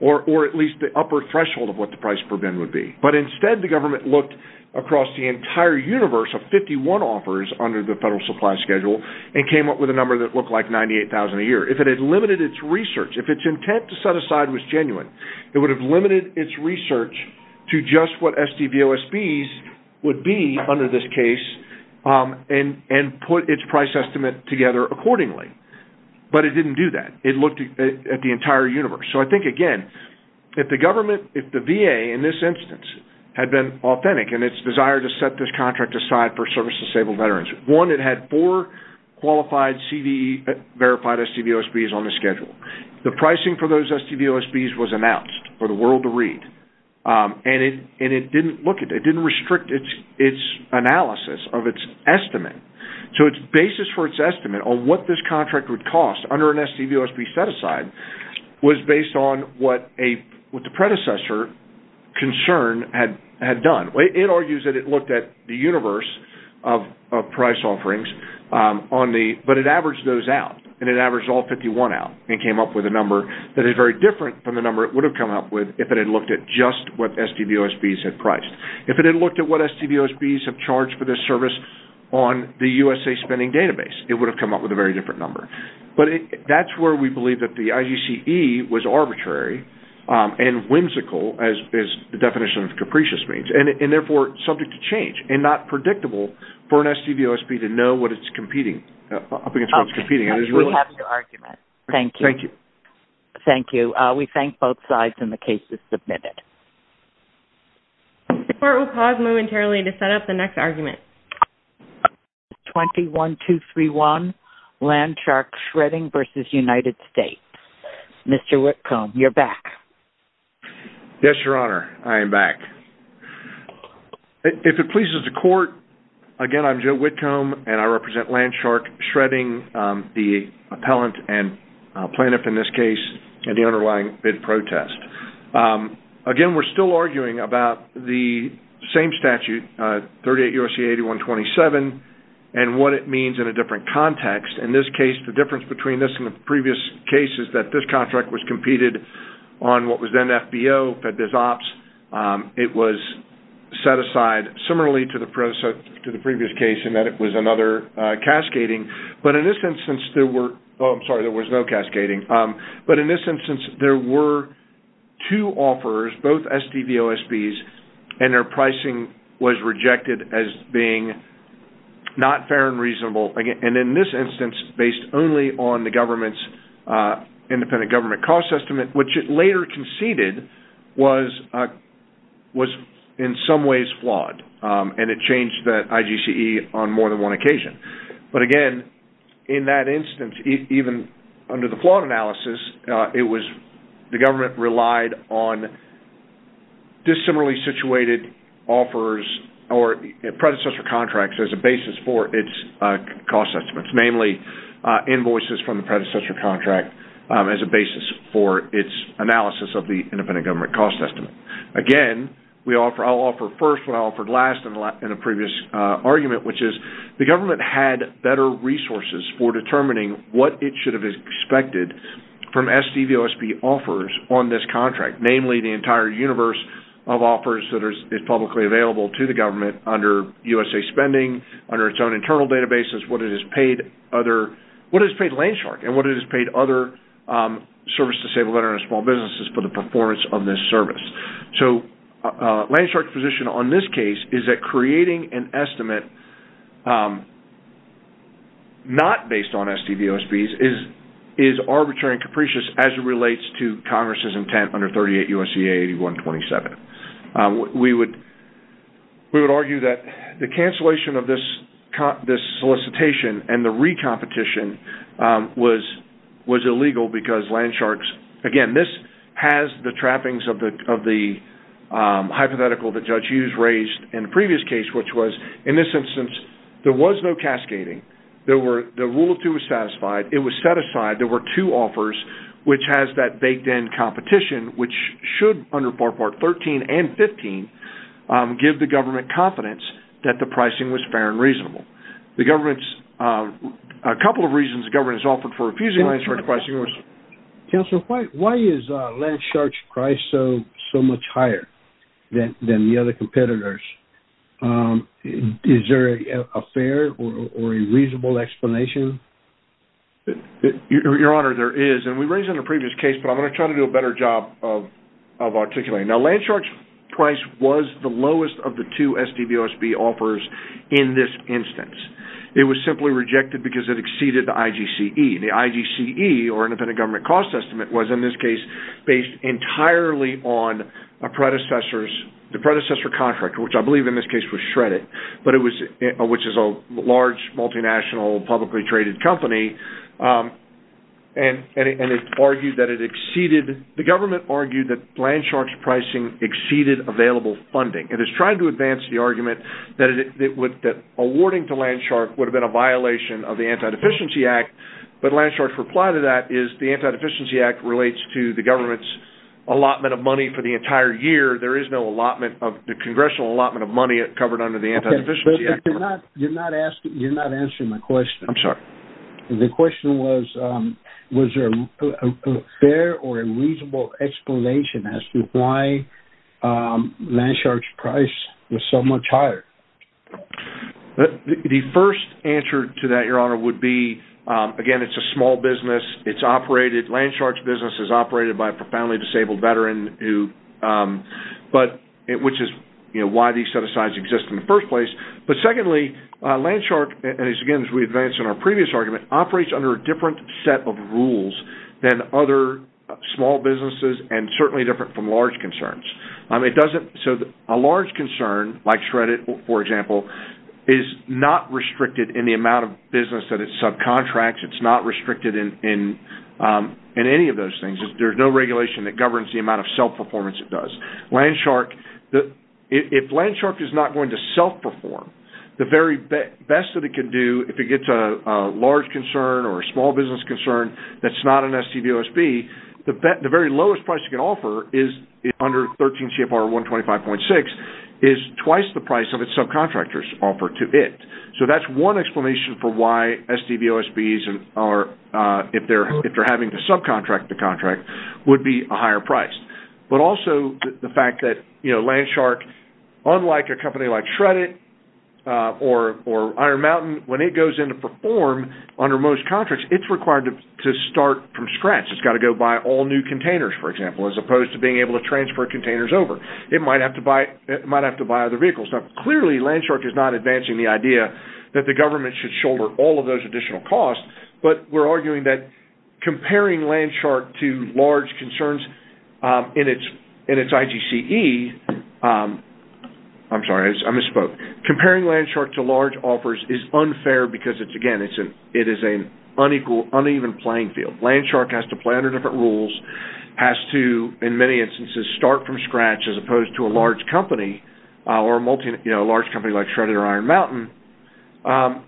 or at least the upper threshold of what the price per bin would be. But instead, the government looked across the entire universe of 51 offers under the federal supply schedule and came up with a number that looked like $98,000 a year. If it had limited its research, if its intent to set aside was genuine, it would have limited its research to just what SDVOSBs would be under this case and put its price estimate together accordingly. But it didn't do that. It looked at the entire universe. So, I think, again, if the government, if the VA, in this instance, had been authentic in its desire to set this contract aside for service-disabled veterans, one, it had four verified SDVOSBs on the schedule. The pricing for those SDVOSBs was announced for the world to read, and it didn't look at it. It didn't restrict its analysis of its estimate. So, its basis for its estimate on what this contract would cost under an SDVOSB set-aside was based on what the predecessor concern had done. It argues that it looked at the universe of price offerings, but it averaged those out, and it averaged all 51 out and came up with a number that is very different from the number it would have come up with if it had looked at just what SDVOSBs had priced. If it had looked at what SDVOSBs have charged for this service on the USA Spending Database, it would have come up with a very different number. But that's where we believe that the IGCE was arbitrary and whimsical, as the definition of capricious means, and, therefore, subject to change and not predictable for an SDVOSB to know what it's competing-up against what it's competing. Okay. We have your argument. Thank you. Thank you. Thank you. We thank both sides, and the case is submitted. The Court will pause momentarily to set up the next argument. 21-231, Landshark Shredding v. United States. Mr. Whitcomb, you're back. Yes, Your Honor. I am back. If it pleases the Court, again, I'm Joe Whitcomb, and I represent Landshark Shredding, the appellant and plaintiff in this case, and the underlying bid protest. Again, we're still arguing about the same statute, 38 U.S.C. 8127, and what it means in a different context. In this case, the difference between this and the previous case is that this contract was competed on what was then FBO, FedBizOpps. It was set aside similarly to the previous case in that it was another cascading. But in this instance, there were – oh, I'm sorry, there was no cascading. But in this instance, there were two offers, both SDVOSBs, and their pricing was rejected as being not fair and reasonable. And in this instance, based only on the government's independent government cost estimate, which it later conceded was in some ways flawed, and it changed the IGCE on more than one occasion. But again, in that instance, even under the flawed analysis, it was – the government relied on dissimilarly situated offers or predecessor contracts as a basis for its cost estimates, namely invoices from the predecessor contract as a basis for its analysis of the independent government cost estimate. Again, I'll offer first what I offered last in a previous argument, which is the government had better resources for determining what it should have expected from SDVOSB offers on this contract, namely the entire universe of offers that is publicly available to the government under USA Spending, under its own internal databases, what it has paid other – So Landshark's position on this case is that creating an estimate not based on SDVOSBs is arbitrary and capricious as it relates to Congress' intent under 38 U.S.C.A. 8127. We would argue that the cancellation of this solicitation and the recompetition was illegal because Landshark's – again, this has the trappings of the hypothetical that Judge Hughes raised in the previous case, which was, in this instance, there was no cascading. The rule of two was satisfied. It was set aside. There were two offers, which has that baked-in competition, which should, under Part 13 and 15, give the government confidence that the pricing was fair and reasonable. The government's – a couple of reasons the government has offered for refusing Landshark's pricing was – It was simply rejected because it exceeded the IGCE. The IGCE, or Independent Government Cost Estimate, was, in this case, based entirely on a predecessor's – the predecessor contract, which I believe in this case was shredded, but it was – which is a large, multinational, publicly traded company. And it argued that it exceeded – the government argued that Landshark's pricing exceeded available funding. It is trying to advance the argument that awarding to Landshark would have been a violation of the Antideficiency Act, but Landshark's reply to that is the Antideficiency Act relates to the government's allotment of money for the entire year. There is no allotment of – the congressional allotment of money covered under the Antideficiency Act. You're not answering my question. I'm sorry. The question was, was there a fair or a reasonable explanation as to why Landshark's price was so much higher? The first answer to that, Your Honor, would be, again, it's a small business. It's operated – Landshark's business is operated by a profoundly disabled veteran who – but – which is why these set-asides exist in the first place. But secondly, Landshark – and again, as we advanced in our previous argument – operates under a different set of rules than other small businesses and certainly different from large concerns. It doesn't – so a large concern, like shredded, for example, is not restricted in the amount of business that it subcontracts. It's not restricted in any of those things. There's no regulation that governs the amount of self-performance it does. Landshark – if Landshark is not going to self-perform, the very best that it can do if it gets a large concern or a small business concern that's not an STV OSB, the very lowest price it can offer is – under 13 CFR 125.6 – is twice the price of its subcontractors offer to it. So that's one explanation for why STV OSBs are – if they're having to subcontract the contract – would be a higher price. But also the fact that, you know, Landshark – unlike a company like shredded or Iron Mountain – when it goes in to perform under most contracts, it's required to start from scratch. It's got to go buy all new containers, for example, as opposed to being able to transfer containers over. It might have to buy other vehicles. Clearly, Landshark is not advancing the idea that the government should shoulder all of those additional costs, but we're arguing that comparing Landshark to large concerns in its IGCE – I'm sorry, I misspoke. Comparing Landshark to large offers is unfair because, again, it is an unequal, uneven playing field. Landshark has to play under different rules, has to, in many instances, start from scratch as opposed to a large company or a multi – you know, a large company like shredded or Iron Mountain.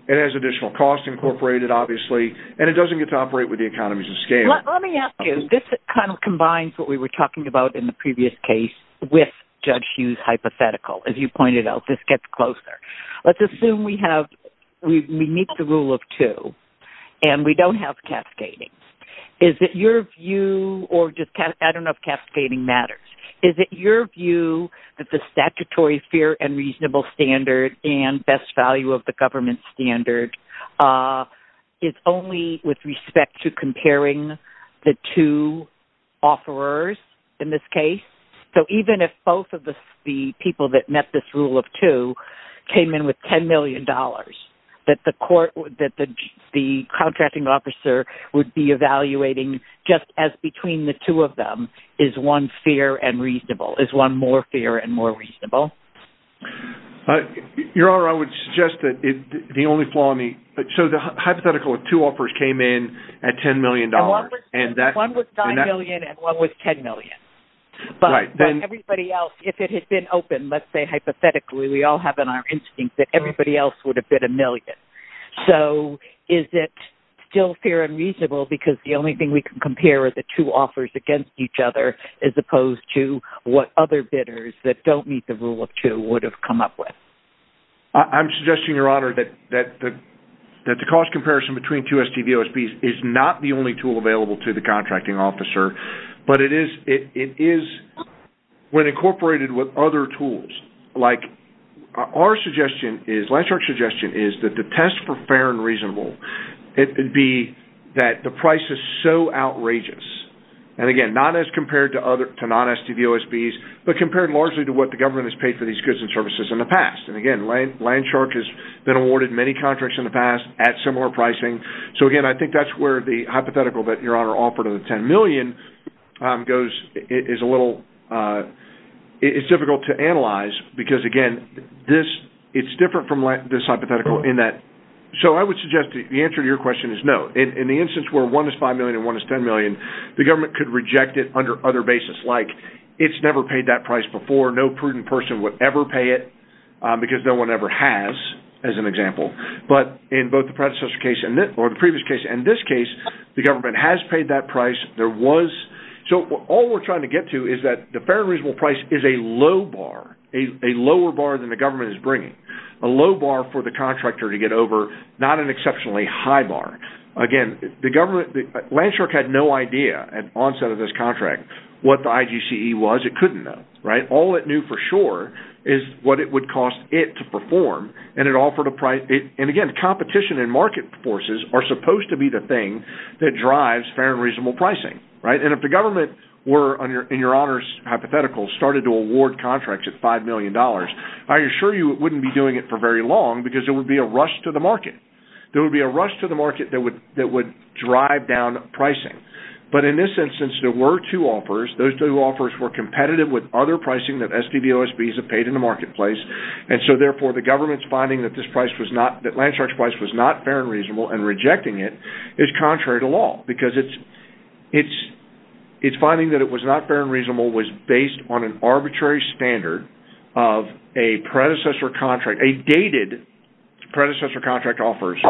It has additional costs incorporated, obviously, and it doesn't get to operate with the economies of scale. Let me ask you. This kind of combines what we were talking about in the previous case with Judge Hughes' hypothetical. As you pointed out, this gets closer. Let's assume we meet the rule of two and we don't have cascading. Is it your view – or I don't know if cascading matters. Is it your view that the statutory fair and reasonable standard and best value of the government standard is only with respect to comparing the two offerers in this case? So even if both of the people that met this rule of two came in with $10 million, that the contracting officer would be evaluating just as between the two of them? Is one fair and reasonable? Is one more fair and more reasonable? Your Honor, I would suggest that the only flaw in the – so the hypothetical of two offers came in at $10 million. One was $9 million and one was $10 million. But everybody else, if it had been open, let's say hypothetically, we all have in our instinct that everybody else would have bid a million. So is it still fair and reasonable because the only thing we can compare are the two offers against each other as opposed to what other bidders that don't meet the rule of two would have come up with? I'm suggesting, Your Honor, that the cost comparison between two STVOSBs is not the only tool available to the contracting officer, but it is when incorporated with other tools. Like our suggestion is – Landshark's suggestion is that the test for fair and reasonable, it would be that the price is so outrageous. And, again, not as compared to non-STVOSBs, but compared largely to what the government has paid for these goods and services in the past. And, again, Landshark has been awarded many contracts in the past at similar pricing. So, again, I think that's where the hypothetical that Your Honor offered of the $10 million goes – is a little – it's difficult to analyze because, again, this – it's different from this hypothetical in that – So I would suggest the answer to your question is no. In the instance where one is $5 million and one is $10 million, the government could reject it under other basis, like it's never paid that price before. No prudent person would ever pay it because no one ever has, as an example. But in both the predecessor case and – or the previous case and this case, the government has paid that price. There was – so all we're trying to get to is that the fair and reasonable price is a low bar, a lower bar than the government is bringing, a low bar for the contractor to get over. Not an exceptionally high bar. Again, the government – Landshark had no idea at onset of this contract what the IGCE was. It couldn't know, right? All it knew for sure is what it would cost it to perform. And it offered a – and, again, competition and market forces are supposed to be the thing that drives fair and reasonable pricing, right? And if the government were, in your honors hypothetical, started to award contracts at $5 million, I assure you it wouldn't be doing it for very long because there would be a rush to the market. There would be a rush to the market that would drive down pricing. But in this instance, there were two offers. Those two offers were competitive with other pricing that SDVOSBs have paid in the marketplace. And so, therefore, the government's finding that this price was not – that Landshark's price was not fair and reasonable and rejecting it is contrary to law because its finding that it was not fair and reasonable was based on an arbitrary standard of a predecessor contract, a dated predecessor contract offers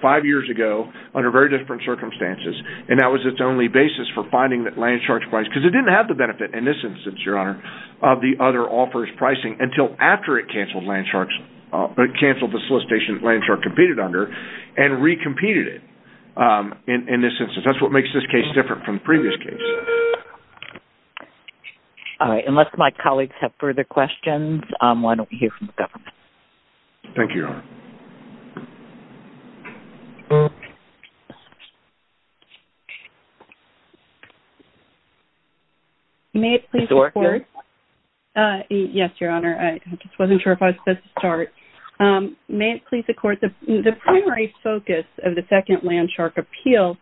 five years ago under very different circumstances. And that was its only basis for finding that Landshark's price – because it didn't have the benefit in this instance, your honor, of the other offers pricing until after it canceled Landshark's – canceled the solicitation that Landshark competed under and recompeted it in this instance. And that's what makes this case different from the previous case. All right. Unless my colleagues have further questions, why don't we hear from the government? Thank you, your honor. May it please the court? Yes, your honor. I just wasn't sure if I was supposed to start. May it please the court? The primary focus of the second Landshark appeal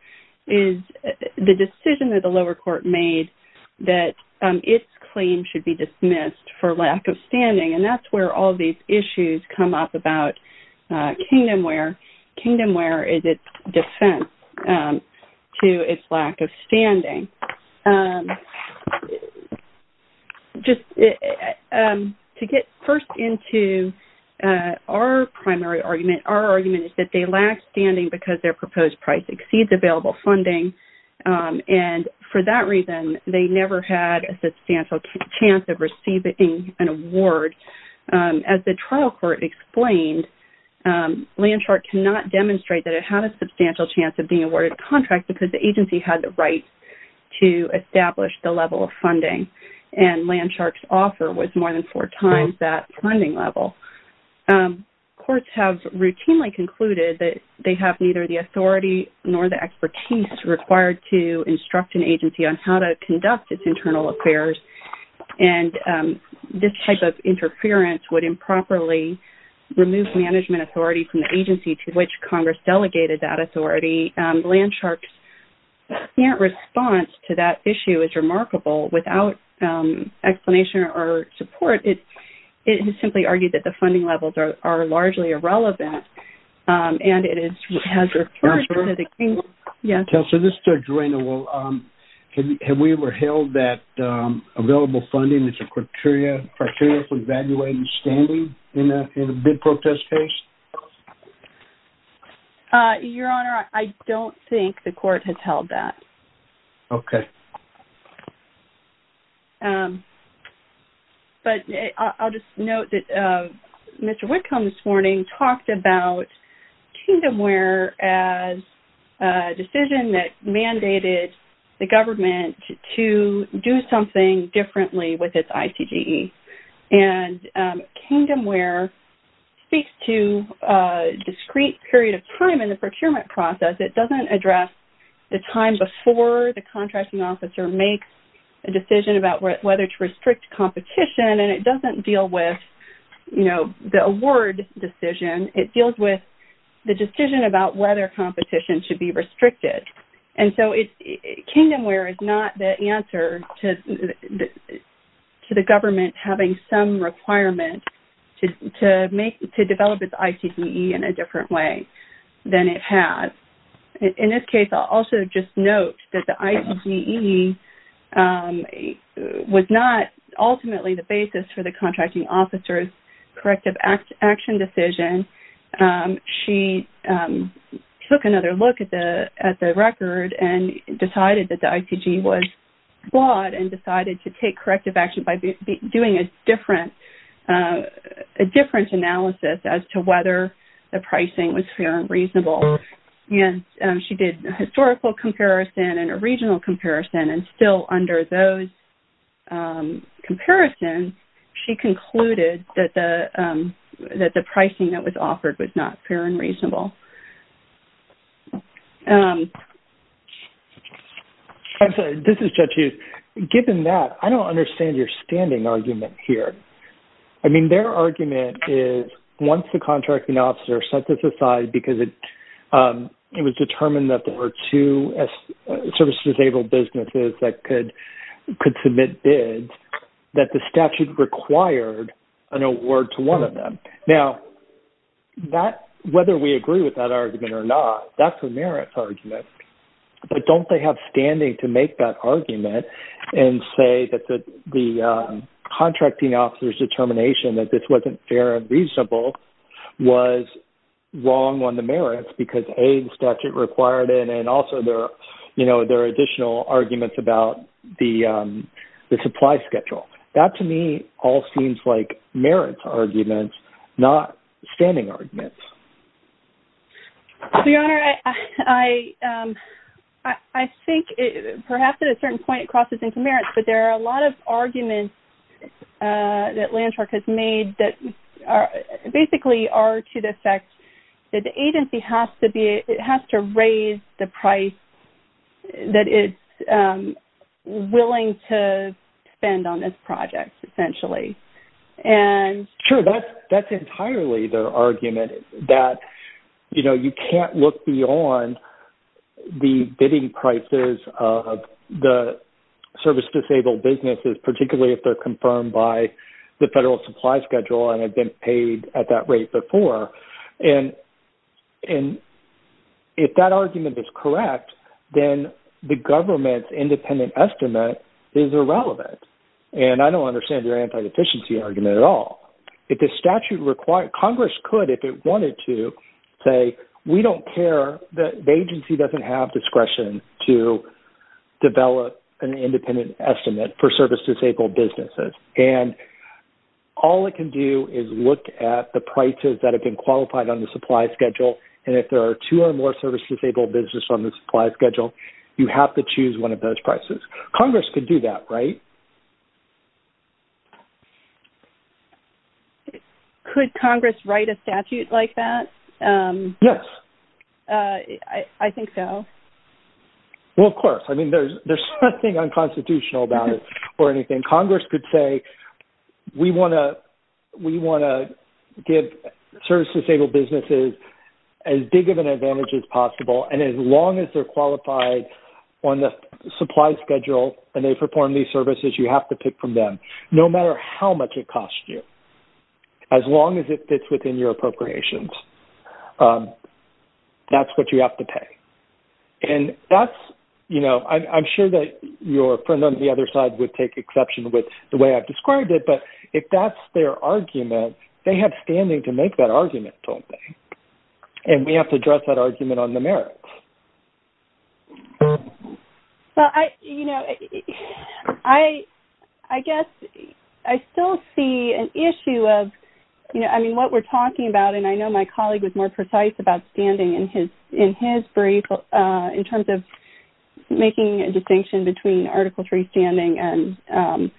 is the decision that the lower court made that its claim should be dismissed for lack of standing. And that's where all these issues come up about Kingdomware. Kingdomware is its defense to its lack of standing. Just to get first into our primary argument, our argument is that they lack standing because their proposed price exceeds available funding. And for that reason, they never had a substantial chance of receiving an award. As the trial court explained, Landshark cannot demonstrate that it had a substantial chance of being awarded a contract because the agency had the right to establish the level of funding. And Landshark's offer was more than four times that funding level. Courts have routinely concluded that they have neither the authority nor the expertise required to instruct an agency on how to conduct its internal affairs. And this type of interference would improperly remove management authority from the agency to which Congress delegated that authority. Landshark's apparent response to that issue is remarkable. Without explanation or support, it has simply argued that the funding levels are largely irrelevant. And it has referred to the Kingdomware. Kelsa, this is for Joanna. Have we ever held that available funding is a criteria for evaluating standing in a bid protest case? Your Honor, I don't think the court has held that. Okay. But I'll just note that Mr. Whitcomb this morning talked about Kingdomware as a decision that mandated the government to do something differently with its ICGE. And Kingdomware speaks to a discrete period of time in the procurement process. It doesn't address the time before the contracting officer makes a decision about whether to restrict competition. And it doesn't deal with, you know, the award decision. It deals with the decision about whether competition should be restricted. And so Kingdomware is not the answer to the government having some requirement to develop its ICGE in a different way than it has. In this case, I'll also just note that the ICGE was not ultimately the basis for the contracting officer's corrective action decision. She took another look at the record and decided that the ICGE was flawed and decided to take corrective action by doing a different analysis as to whether the pricing was fair and reasonable. And she did a historical comparison and a regional comparison. And still under those comparisons, she concluded that the pricing that was offered was not fair and reasonable. I'm sorry. This is Judge Hughes. Given that, I don't understand your standing argument here. I mean, their argument is once the contracting officer sets this aside because it was determined that there were two service-disabled businesses that could submit bids, that the statute required an award to one of them. Now, whether we agree with that argument or not, that's a merits argument. But don't they have standing to make that argument and say that the contracting officer's determination that this wasn't fair and reasonable was wrong on the merits because, A, the statute required it, and also there are additional arguments about the supply schedule. That, to me, all seems like merits arguments, not standing arguments. Your Honor, I think perhaps at a certain point it crosses into merits, but there are a lot of arguments that Landshark has made that basically are to the effect that the agency has to raise the price that it's willing to spend on this project, essentially. Sure. That's entirely their argument that, you know, you can't look beyond the bidding prices of the service-disabled businesses, particularly if they're confirmed by the federal supply schedule and have been paid at that rate before. And if that argument is correct, then the government's independent estimate is irrelevant. And I don't understand your anti-deficiency argument at all. Congress could, if it wanted to, say, we don't care, the agency doesn't have discretion to develop an independent estimate for service-disabled businesses. And all it can do is look at the prices that have been qualified on the supply schedule, and if there are two or more service-disabled businesses on the supply schedule, you have to choose one of those prices. Congress could do that, right? Could Congress write a statute like that? Yes. I think so. Well, of course. I mean, there's nothing unconstitutional about it or anything. And Congress could say, we want to give service-disabled businesses as big of an advantage as possible. And as long as they're qualified on the supply schedule and they perform these services, you have to pick from them, no matter how much it costs you, as long as it fits within your appropriations. That's what you have to pay. And that's, you know, I'm sure that your friend on the other side would take exception with the way I've described it, but if that's their argument, they have standing to make that argument, don't they? And we have to address that argument on the merits. Well, I, you know, I guess I still see an issue of, you know, I mean, what we're talking about, and I know my colleague was more precise about standing in his brief in terms of making a distinction between Article III standing and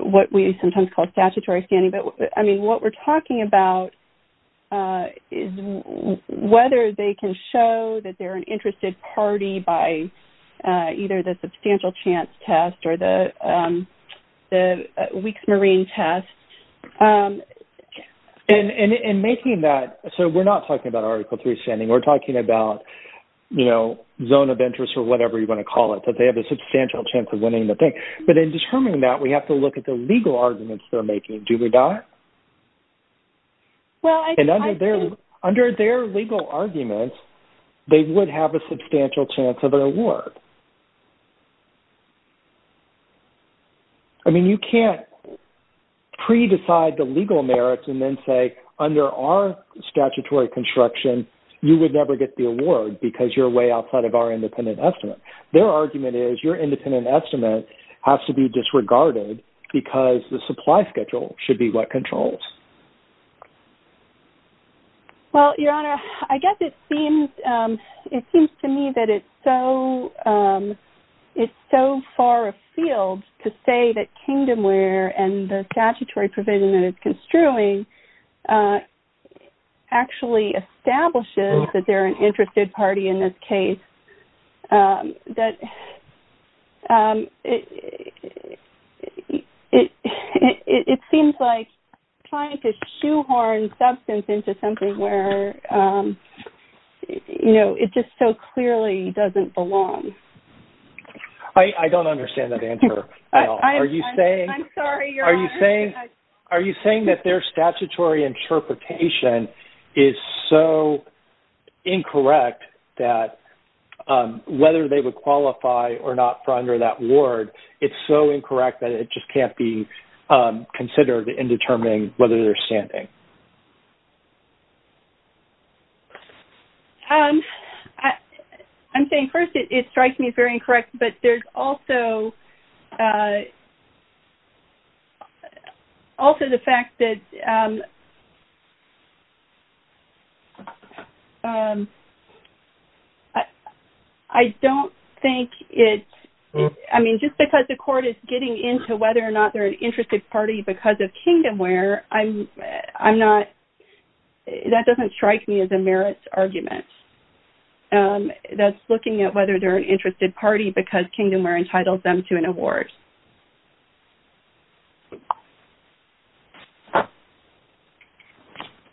what we sometimes call statutory standing. But, I mean, what we're talking about is whether they can show that they're an interested party by either the substantial chance test or the weak marine test. And making that, so we're not talking about Article III standing, we're talking about, you know, zone of interest or whatever you want to call it, that they have a substantial chance of winning the thing. But in determining that, we have to look at the legal arguments they're making, do we not? And under their legal arguments, they would have a substantial chance of an award. I mean, you can't pre-decide the legal merits and then say, under our statutory construction, you would never get the award because you're way outside of our independent estimate. Their argument is your independent estimate has to be disregarded because the supply schedule should be what controls. Well, Your Honor, I guess it seems to me that it's so far afield to say that Kingdomware and the statutory provision that it's construing actually establishes that they're an interested party in this case. That it seems like trying to shoehorn substance into something where, you know, it just so clearly doesn't belong. I don't understand that answer at all. Are you saying... I'm sorry, Your Honor. Are you saying that their statutory interpretation is so incorrect that whether they would qualify or not for under that award, it's so incorrect that it just can't be considered in determining whether they're standing? I'm sorry. I'm saying, first, it strikes me as very incorrect, but there's also the fact that I don't think it's... I mean, just because the court is getting into whether or not they're an interested party because of Kingdomware, I'm not... that doesn't strike me as a merits argument. That's looking at whether they're an interested party because Kingdomware entitled them to an award.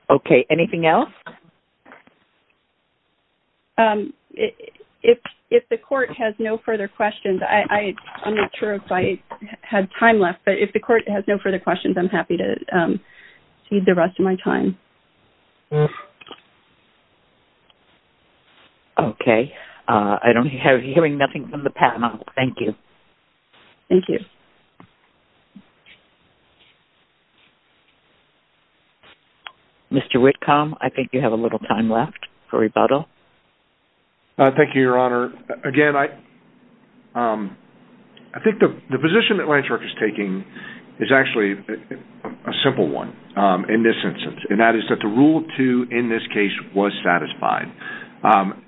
Okay. Anything else? If the court has no further questions, I'm not sure if I have time left, but if the court has no further questions, I'm happy to cede the rest of my time. Okay. I don't hear anything from the panel. Thank you. Thank you. Mr. Whitcomb, I think you have a little time left for rebuttal. Thank you, Your Honor. Again, I think the position that Landshark is taking is actually a simple one in this instance, and that is that the Rule 2 in this case was satisfied.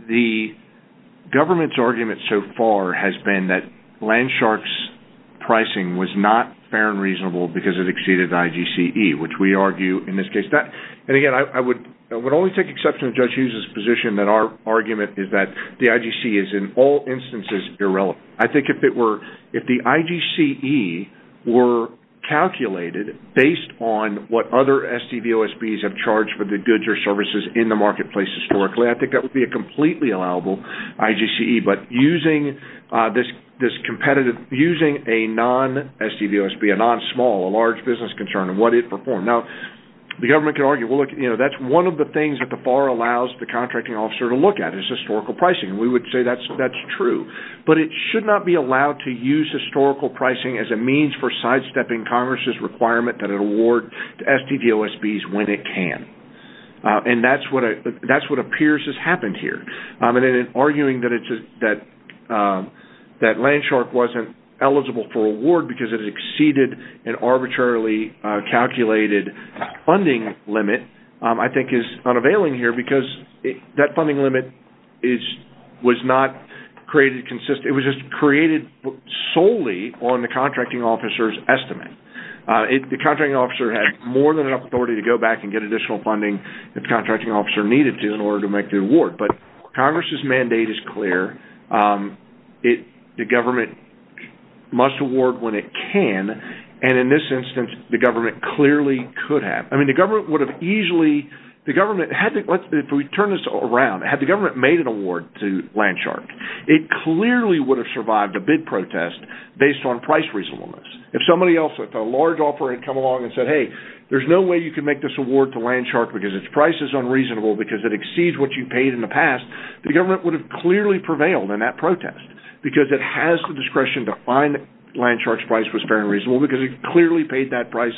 The government's argument so far has been that Landshark's pricing was not fair and reasonable because it exceeded IGCE, which we argue in this case... And again, I would only take exception to Judge Hughes's position that our argument is that the IGCE is in all instances irrelevant. I think if the IGCE were calculated based on what other SDVOSBs have charged for the goods or services in the marketplace historically, I think that would be a completely allowable IGCE. But using a non-SDVOSB, a non-small, a large business concern, and what it performed... Now, the government can argue, well, look, that's one of the things that the FAR allows the contracting officer to look at is historical pricing. We would say that's true. But it should not be allowed to use historical pricing as a means for sidestepping Congress's requirement that it award SDVOSBs when it can. And that's what appears has happened here. And in arguing that Landshark wasn't eligible for award because it exceeded an arbitrarily calculated funding limit, I think is unavailing here because that funding limit was not created consistent. It was just created solely on the contracting officer's estimate. The contracting officer had more than enough authority to go back and get additional funding if the contracting officer needed to in order to make the award. Congress's mandate is clear. The government must award when it can. And in this instance, the government clearly could have. I mean, the government would have easily... If we turn this around, had the government made an award to Landshark, it clearly would have survived a bid protest based on price reasonableness. If somebody else with a large offer had come along and said, hey, there's no way you can make this award to Landshark because its price is unreasonable because it exceeds what you paid in the past, the government would have clearly prevailed in that protest. Because it has the discretion to find that Landshark's price was fair and reasonable because it clearly paid that price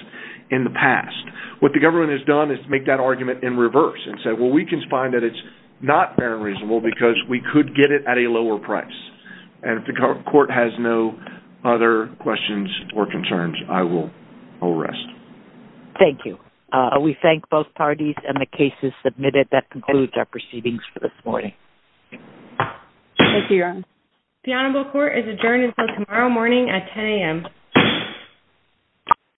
in the past. What the government has done is make that argument in reverse and said, well, we can find that it's not fair and reasonable because we could get it at a lower price. And if the court has no other questions or concerns, I will arrest. Thank you. We thank both parties and the cases submitted. That concludes our proceedings for this morning. Thank you, Your Honor. The Honorable Court is adjourned until tomorrow morning at 10 a.m.